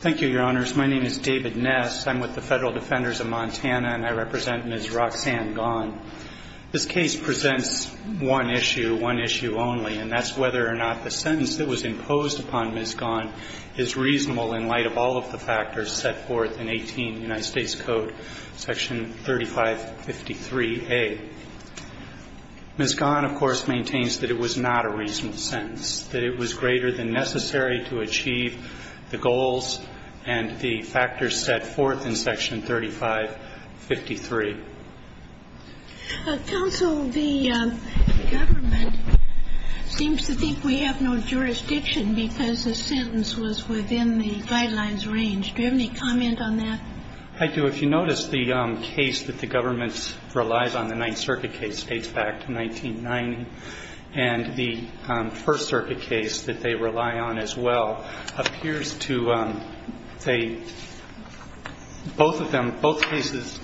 Thank you, Your Honors. My name is David Ness. I'm with the Federal Defenders of Montana, and I represent Ms. Roxanne Gone. This case presents one issue, one issue only, and that's whether or not the sentence that was imposed upon Ms. Gone is reasonable in light of all of the factors set forth in 18 United States Code, section 3553A. Ms. Gone, of course, maintains that it was not a reasonable sentence, that it was greater than necessary to achieve the goals and the factors set forth in section 3553. Counsel, the government seems to think we have no jurisdiction because the sentence was within the guidelines range. Do you have any comment on that? I do. If you notice, the case that the government relies on, the Ninth Circuit case, dates back to 1990. And the First Circuit case that they rely on as well appears to, they, both of them, both cases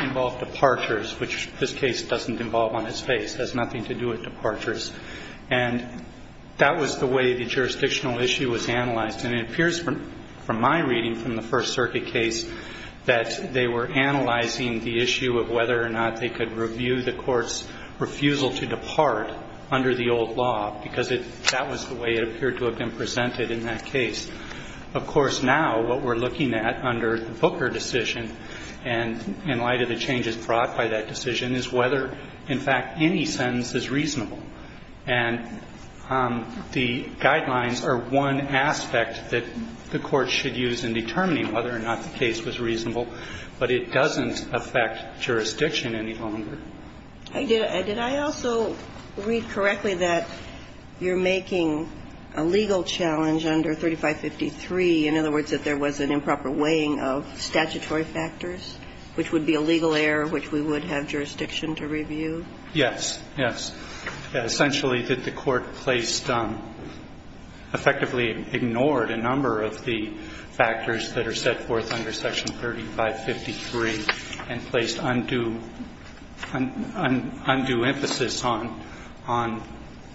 involve departures, which this case doesn't involve on its face. It has nothing to do with departures. And that was the way the jurisdictional issue was analyzed. And it appears from my reading from the First Circuit case that they were analyzing the issue of whether or not they could review the court's refusal to depart under the old law, because that was the way it appeared to have been presented in that case. Of course, now what we're looking at under the Booker decision and in light of the changes brought by that decision is whether, in fact, any sentence is reasonable. And the guidelines are one aspect that the court should use in determining whether or not the case was reasonable, but it doesn't affect jurisdiction any longer. Did I also read correctly that you're making a legal challenge under 3553, in other words, that there was an improper weighing of statutory factors, which would be a legal error which we would have jurisdiction to review? Yes. Yes. Essentially that the court placed, effectively ignored a number of the factors that are set forth under Section 3553 and placed undue emphasis on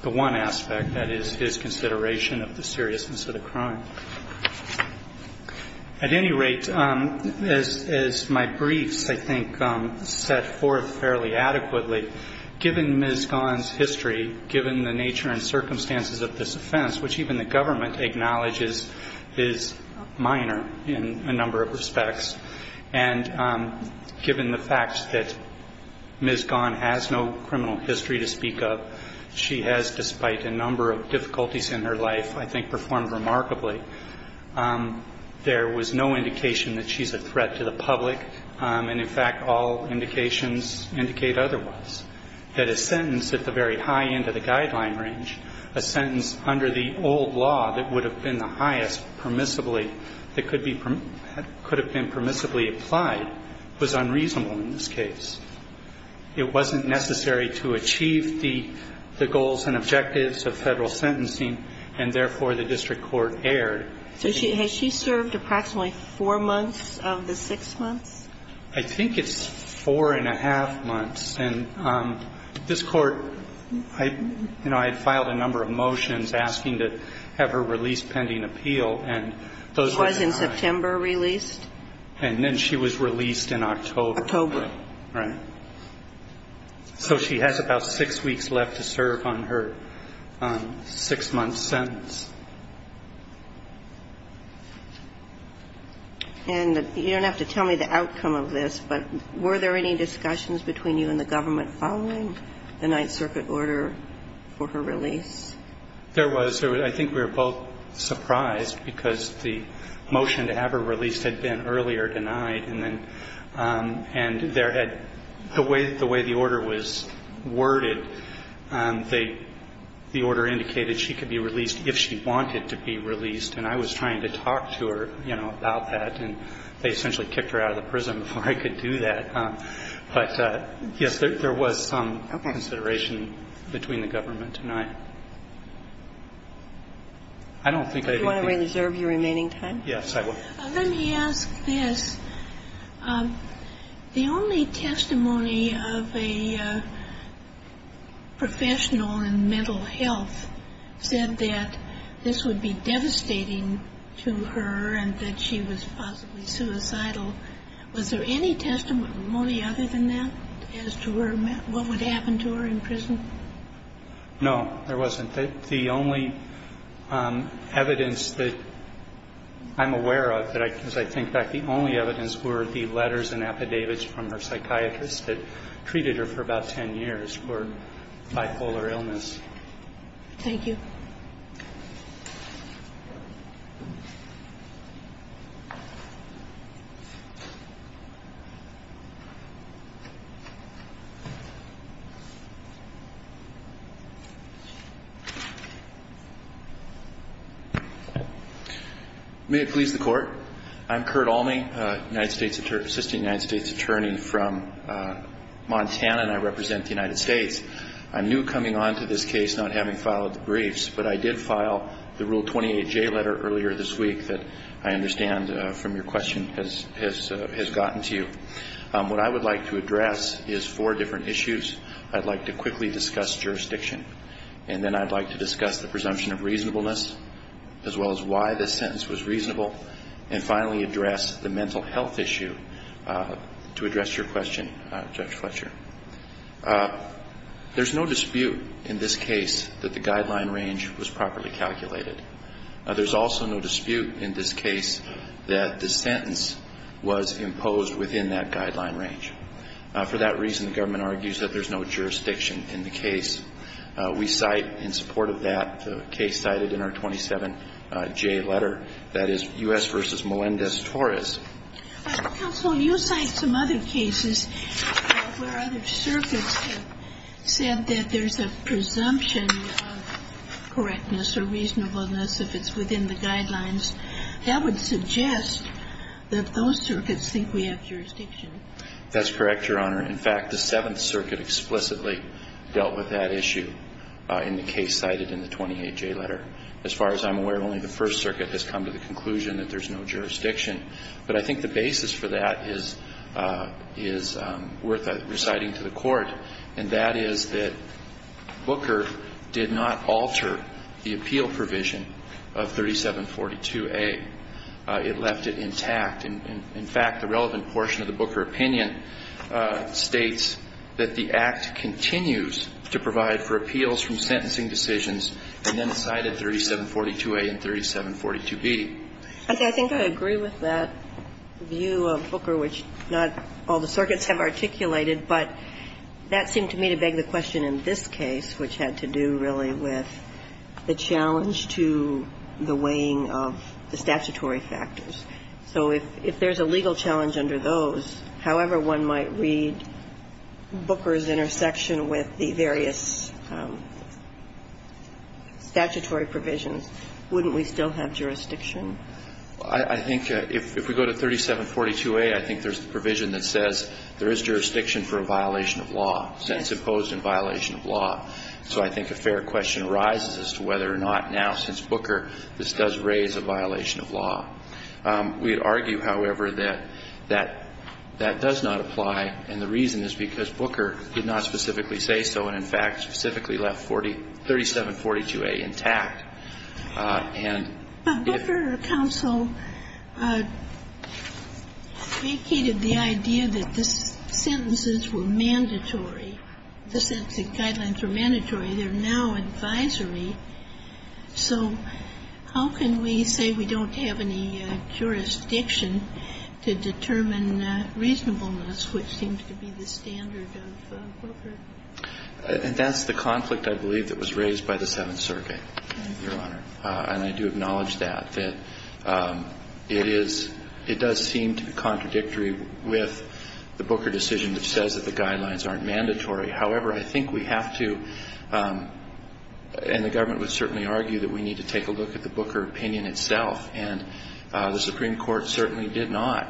the one aspect, that is, his consideration of the seriousness of the crime. At any rate, as my briefs, I think, set forth fairly adequately, given me the nature and circumstances of this offense, which even the government acknowledges is minor in a number of respects. And given the fact that Ms. Gahn has no criminal history to speak of, she has, despite a number of difficulties in her life, I think performed remarkably. There was no indication that she's a threat to the public. And, in fact, all indications indicate otherwise. That a sentence at the very high end of the guideline range, a sentence under the old law that would have been the highest permissibly, that could have been permissibly applied, was unreasonable in this case. It wasn't necessary to achieve the goals and objectives of Federal sentencing and, therefore, the district court erred. So has she served approximately four months of the six months? I think it's four and a half months. And this Court, you know, I had filed a number of motions asking to have her released pending appeal, and those were not. She was in September released? And then she was released in October. October. Right. So she has about six weeks left to serve on her six-month sentence. And you don't have to tell me the outcome of this, but were there any discussions between you and the government following the Ninth Circuit order for her release? There was. I think we were both surprised, because the motion to have her released had been earlier denied, and then the way the order was worded, the order indicated that she could be released if she wanted to be released. And I was trying to talk to her, you know, about that, and they essentially kicked her out of the prison before I could do that. But, yes, there was some consideration between the government and I. I don't think they've been. Do you want to reserve your remaining time? Yes, I would. Let me ask this. The only testimony of a professional in mental health said that this would be devastating to her and that she was possibly suicidal. Was there any testimony other than that as to what would happen to her in prison? No, there wasn't. The only evidence that I'm aware of, as I think back, the only evidence were the letters and affidavits from her psychiatrist that treated her for about ten years for bipolar illness. Thank you. May it please the Court. I'm Curt Alme, Assistant United States Attorney from Montana, and I represent the United States. I'm new coming onto this case, not having filed the briefs, but I did file the Rule 28J letter earlier this week that I understand from your question has gotten to you. What I would like to address is four different issues. I'd like to quickly discuss jurisdiction, and then I'd like to discuss the presumption of reasonableness, as well as why this sentence was reasonable, and finally address the mental health issue to address your question, Judge Fletcher. There's no dispute in this case that the guideline range was properly calculated. There's also no dispute in this case that the sentence was imposed within that guideline range. For that reason, the government argues that there's no jurisdiction in the case. We cite in support of that the case cited in our 27J letter, that is U.S. v. Melendez-Torres. Counsel, you cite some other cases where other circuits have said that there's a presumption of correctness or reasonableness if it's within the guidelines. That would suggest that those circuits think we have jurisdiction. That's correct, Your Honor. In fact, the Seventh Circuit explicitly dealt with that issue in the case cited in the 28J letter. As far as I'm aware, only the First Circuit has come to the conclusion that there's no jurisdiction. But I think the basis for that is worth reciting to the Court, and that is that Booker did not alter the appeal provision of 3742A. It left it intact. In fact, the relevant portion of the Booker opinion states that the Act continues to provide for appeals from sentencing decisions, and then cited 3742A and 3742B. Okay. I think I agree with that view of Booker, which not all the circuits have articulated. But that seemed to me to beg the question in this case, which had to do really with the challenge to the weighing of the statutory factors. So if there's a legal challenge under those, however one might read Booker's intersection with the various statutory provisions, wouldn't we still have jurisdiction? I think if we go to 3742A, I think there's the provision that says there is jurisdiction for a violation of law, sentence imposed in violation of law. So I think a fair question arises as to whether or not now, since Booker, this does raise a violation of law. We would argue, however, that that does not apply, and the reason is because Booker did not specifically say so and, in fact, specifically left 3742A intact. And if you're a counsel vacated the idea that the sentences were mandatory, the sentencing guidelines were mandatory. They're now advisory. So how can we say we don't have any jurisdiction to determine reasonableness, which seems to be the standard of Booker? And that's the conflict, I believe, that was raised by the Seventh Circuit, Your Honor. And I do acknowledge that, that it is – it does seem to be contradictory with the Booker decision, which says that the guidelines aren't mandatory. However, I think we have to – and the government would certainly argue that we need to take a look at the Booker opinion itself, and the Supreme Court certainly did not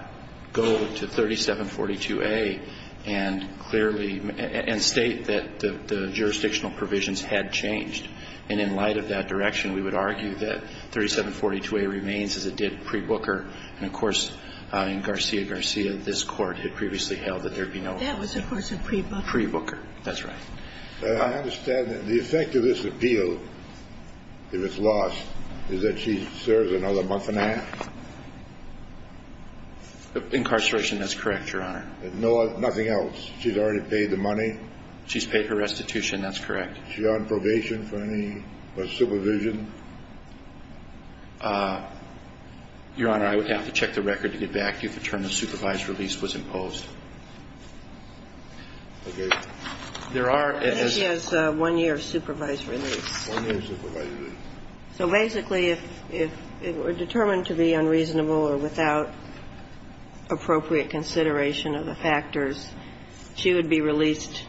go to 3742A and clearly – and state that the jurisdictional provisions had changed. And in light of that direction, we would argue that 3742A remains as it did pre-Booker. And, of course, in Garcia-Garcia, this Court had previously held that there would be no – That was, of course, a pre-Booker. Pre-Booker, that's right. I understand that the effect of this appeal, if it's lost, is that she serves another month and a half? Incarceration, that's correct, Your Honor. And nothing else? She's already paid the money? She's paid her restitution, that's correct. She on probation for any – for supervision? Your Honor, I would have to check the record to get back to you if a term of supervised release was imposed. There are as – But she has one year of supervised release. One year of supervised release. So basically, if it were determined to be unreasonable or without appropriate consideration of the factors, she would be released,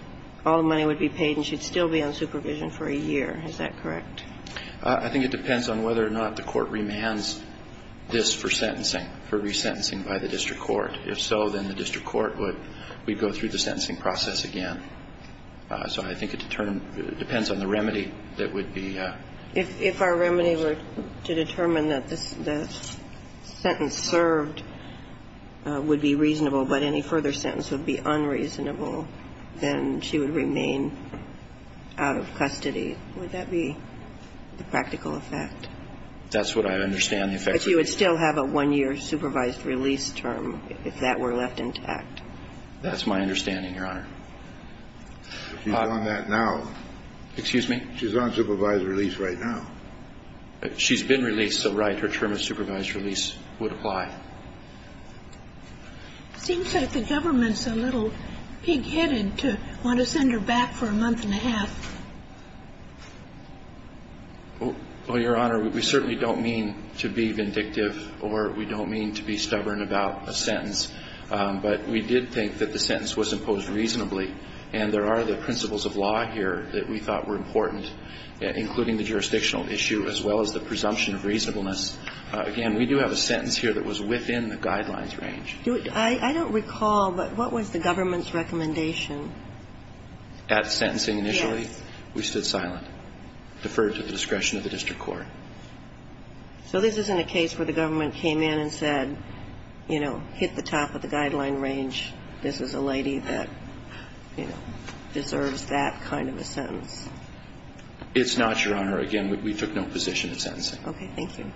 all the money would be paid, and she'd still be on supervision for a year. Is that correct? I think it depends on whether or not the Court remands this for sentencing, for resentencing by the district court. If so, then the district court would go through the sentencing process again. So I think it depends on the remedy that would be used. If our remedy were to determine that the sentence served would be reasonable but any further sentence would be unreasonable, then she would remain out of custody. Would that be the practical effect? That's what I understand the effect would be. But she would still have a one-year supervised release term if that were left intact. That's my understanding, Your Honor. She's on that now. Excuse me? She's on supervised release right now. She's been released, so, right, her term of supervised release would apply. It seems that the government's a little pig-headed to want to send her back for a month and a half. Well, Your Honor, we certainly don't mean to be vindictive or we don't mean to be stubborn about a sentence, but we did think that the sentence was imposed reasonably, and there are the principles of law here that we thought were important, including the jurisdictional issue as well as the presumption of reasonableness. Again, we do have a sentence here that was within the guidelines range. I don't recall, but what was the government's recommendation? At sentencing initially? We stood silent, deferred to the discretion of the district court. So this isn't a case where the government came in and said, you know, hit the top of the guideline range, this is a lady that, you know, deserves that kind of a sentence? It's not, Your Honor. Again, we took no position at sentencing. Okay. Thank you.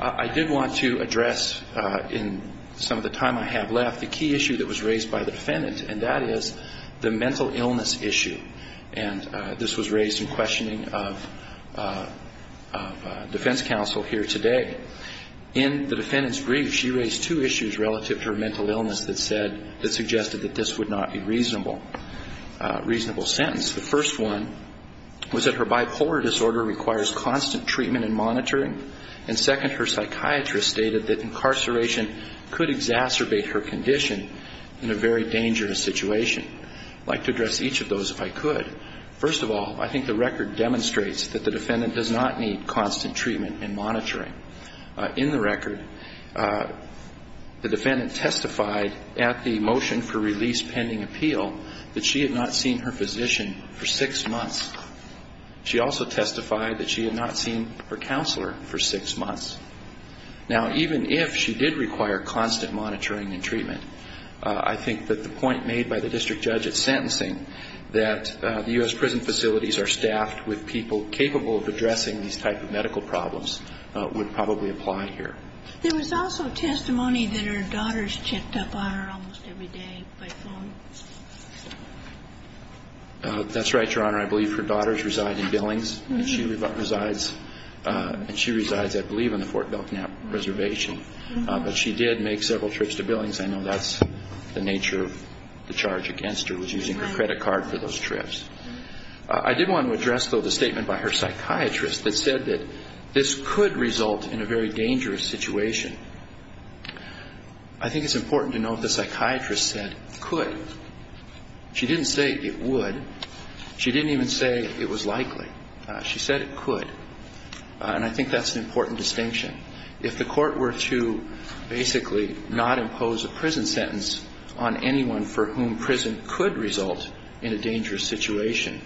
I did want to address in some of the time I have left the key issue that was raised by the defendant, and that is the mental illness issue. And this was raised in questioning of defense counsel here today. In the defendant's brief, she raised two issues relative to her mental illness that suggested that this would not be a reasonable sentence. The first one was that her bipolar disorder requires constant treatment and monitoring, and second, her psychiatrist stated that incarceration could exacerbate her condition in a very dangerous situation. I'd like to address each of those if I could. First of all, I think the record demonstrates that the defendant does not need constant treatment and monitoring. In the record, the defendant testified at the motion for release pending appeal that she had not seen her physician for six months. She also testified that she had not seen her counselor for six months. Now, even if she did require constant monitoring and treatment, I think that the point made by the district judge at sentencing that the U.S. prison facilities are staffed with people capable of addressing these type of medical problems would probably apply here. There was also testimony that her daughters checked up on her almost every day by phone. That's right, Your Honor. I believe her daughters reside in Billings. And she resides, I believe, on the Fort Belknap Reservation. But she did make several trips to Billings. I know that's the nature of the charge against her was using her credit card for those trips. I did want to address, though, the statement by her psychiatrist that said that this could result in a very dangerous situation. I think it's important to note the psychiatrist said could. She didn't say it would. She didn't even say it was likely. She said it could. And I think that's an important distinction. If the court were to basically not impose a prison sentence on anyone for whom prison could result in a dangerous situation,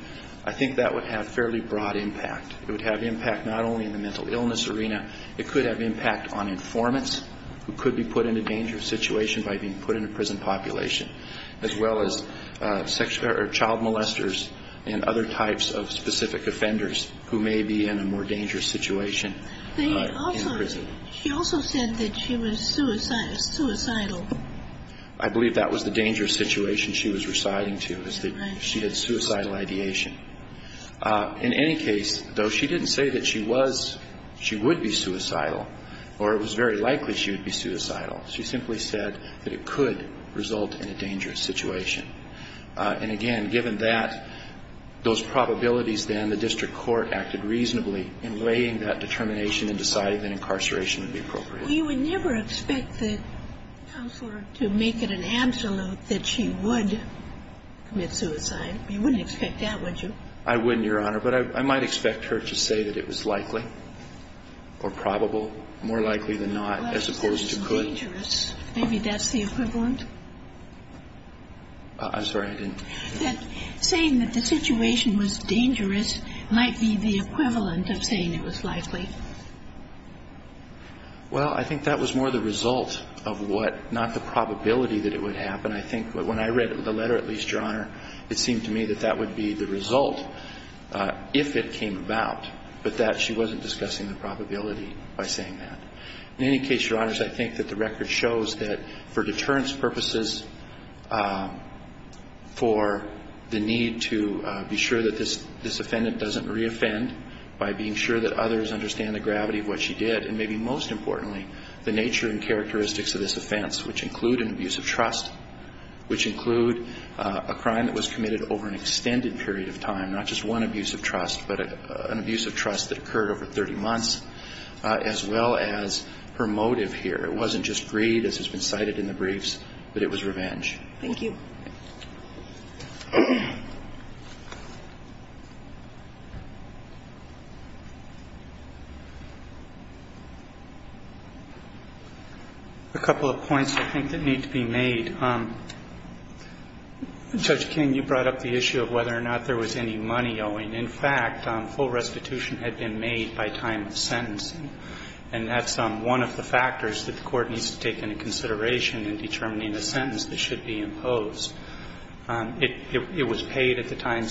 I think that would have fairly broad impact. It would have impact not only in the mental illness arena. It could have impact on informants who could be put in a dangerous situation by being put in a prison population, as well as child molesters and other types of specific offenders who may be in a more dangerous situation in prison. She also said that she was suicidal. I believe that was the dangerous situation she was residing to, is that she had suicidal ideation. In any case, though, she didn't say that she was, she would be suicidal, or it was very likely she would be suicidal. She simply said that it could result in a dangerous situation. And, again, given that, those probabilities then, the district court acted reasonably in weighing that determination and deciding that incarceration would be appropriate. You would never expect the counselor to make it an absolute that she would commit suicide. You wouldn't expect that, would you? I wouldn't, Your Honor. But I might expect her to say that it was likely or probable, more likely than not, as opposed to could. But I don't think that's the equivalent of saying it was dangerous. Maybe that's the equivalent. I'm sorry, I didn't hear you. That saying that the situation was dangerous might be the equivalent of saying it was likely. Well, I think that was more the result of what, not the probability that it would happen. I think when I read the letter, at least, Your Honor, it seemed to me that that would be the result if it came about. But that she wasn't discussing the probability by saying that. In any case, Your Honors, I think that the record shows that for deterrence purposes, for the need to be sure that this offendant doesn't reoffend by being sure that others understand the gravity of what she did, and maybe most importantly, the nature and characteristics of this offense, which include an abuse of trust, which include a crime that was committed over an extended period of time, not just one abuse of trust, but an abuse of trust that occurred over 30 months, as well as her motive here. It wasn't just greed, as has been cited in the briefs, but it was revenge. Thank you. A couple of points I think that need to be made. Judge King, you brought up the issue of whether or not there was any money owing. In fact, full restitution had been made by time of sentencing. And that's one of the factors that the Court needs to take into consideration in determining a sentence that should be imposed. It was paid at the time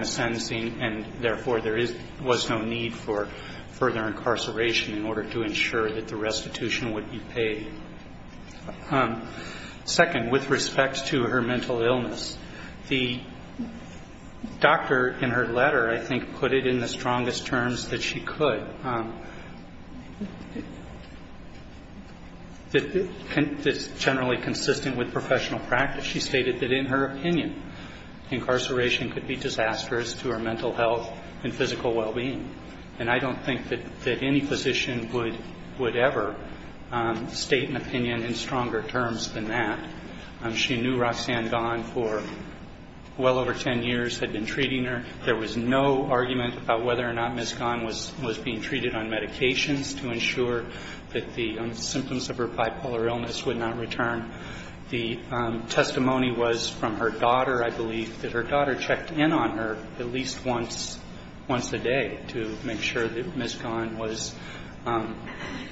of sentencing, and therefore, there was no need for further incarceration in order to ensure that the restitution would be paid. Second, with respect to her mental illness, the doctor in her letter, I think, put it in the strongest terms that she could. It's generally consistent with professional practice. She stated that in her opinion, incarceration could be disastrous to her mental health and physical well-being. And I don't think that any physician would ever state an opinion in stronger terms than that. She knew Roxanne Gahn for well over 10 years, had been treating her. There was no argument about whether or not Ms. Gahn was being treated on medications to ensure that the symptoms of her bipolar illness would not return. The testimony was from her daughter, I believe, that her daughter checked in on her at least once a day to make sure that Ms. Gahn was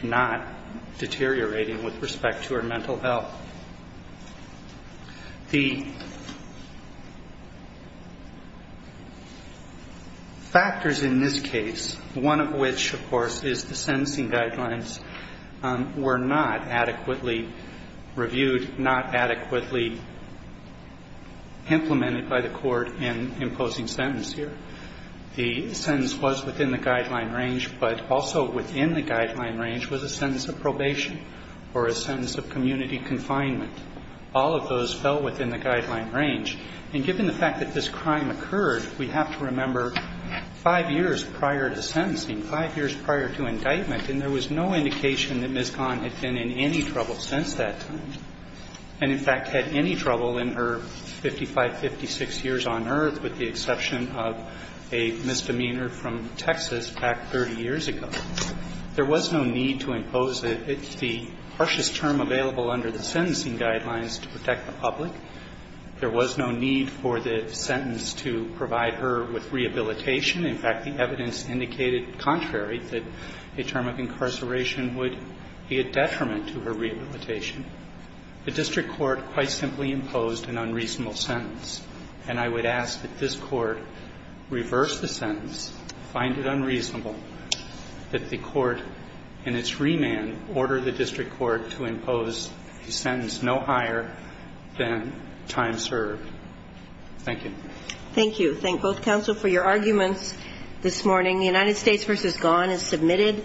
not deteriorating with respect to her mental health. The factors in this case, one of which, of course, is the sentencing guidelines, were not adequately reviewed. Not adequately implemented by the court in imposing sentence here. The sentence was within the guideline range, but also within the guideline range was a sentence of probation or a sentence of community confinement. All of those fell within the guideline range. And given the fact that this crime occurred, we have to remember five years prior to sentencing, five years prior to indictment, and there was no indication that Ms. Gahn had been in any trouble since that time. And, in fact, had any trouble in her 55, 56 years on earth, with the exception of a misdemeanor from Texas back 30 years ago. There was no need to impose the harshest term available under the sentencing guidelines to protect the public. There was no need for the sentence to provide her with rehabilitation. In fact, the evidence indicated contrary, that a term of incarceration would be a detriment to her rehabilitation. The district court quite simply imposed an unreasonable sentence, and I would ask that this court reverse the sentence, find it unreasonable that the court in its remand order the district court to impose a sentence no higher than time served. Thank you. Thank you. Thank both counsel for your arguments this morning. The United States v. Gahn is submitted.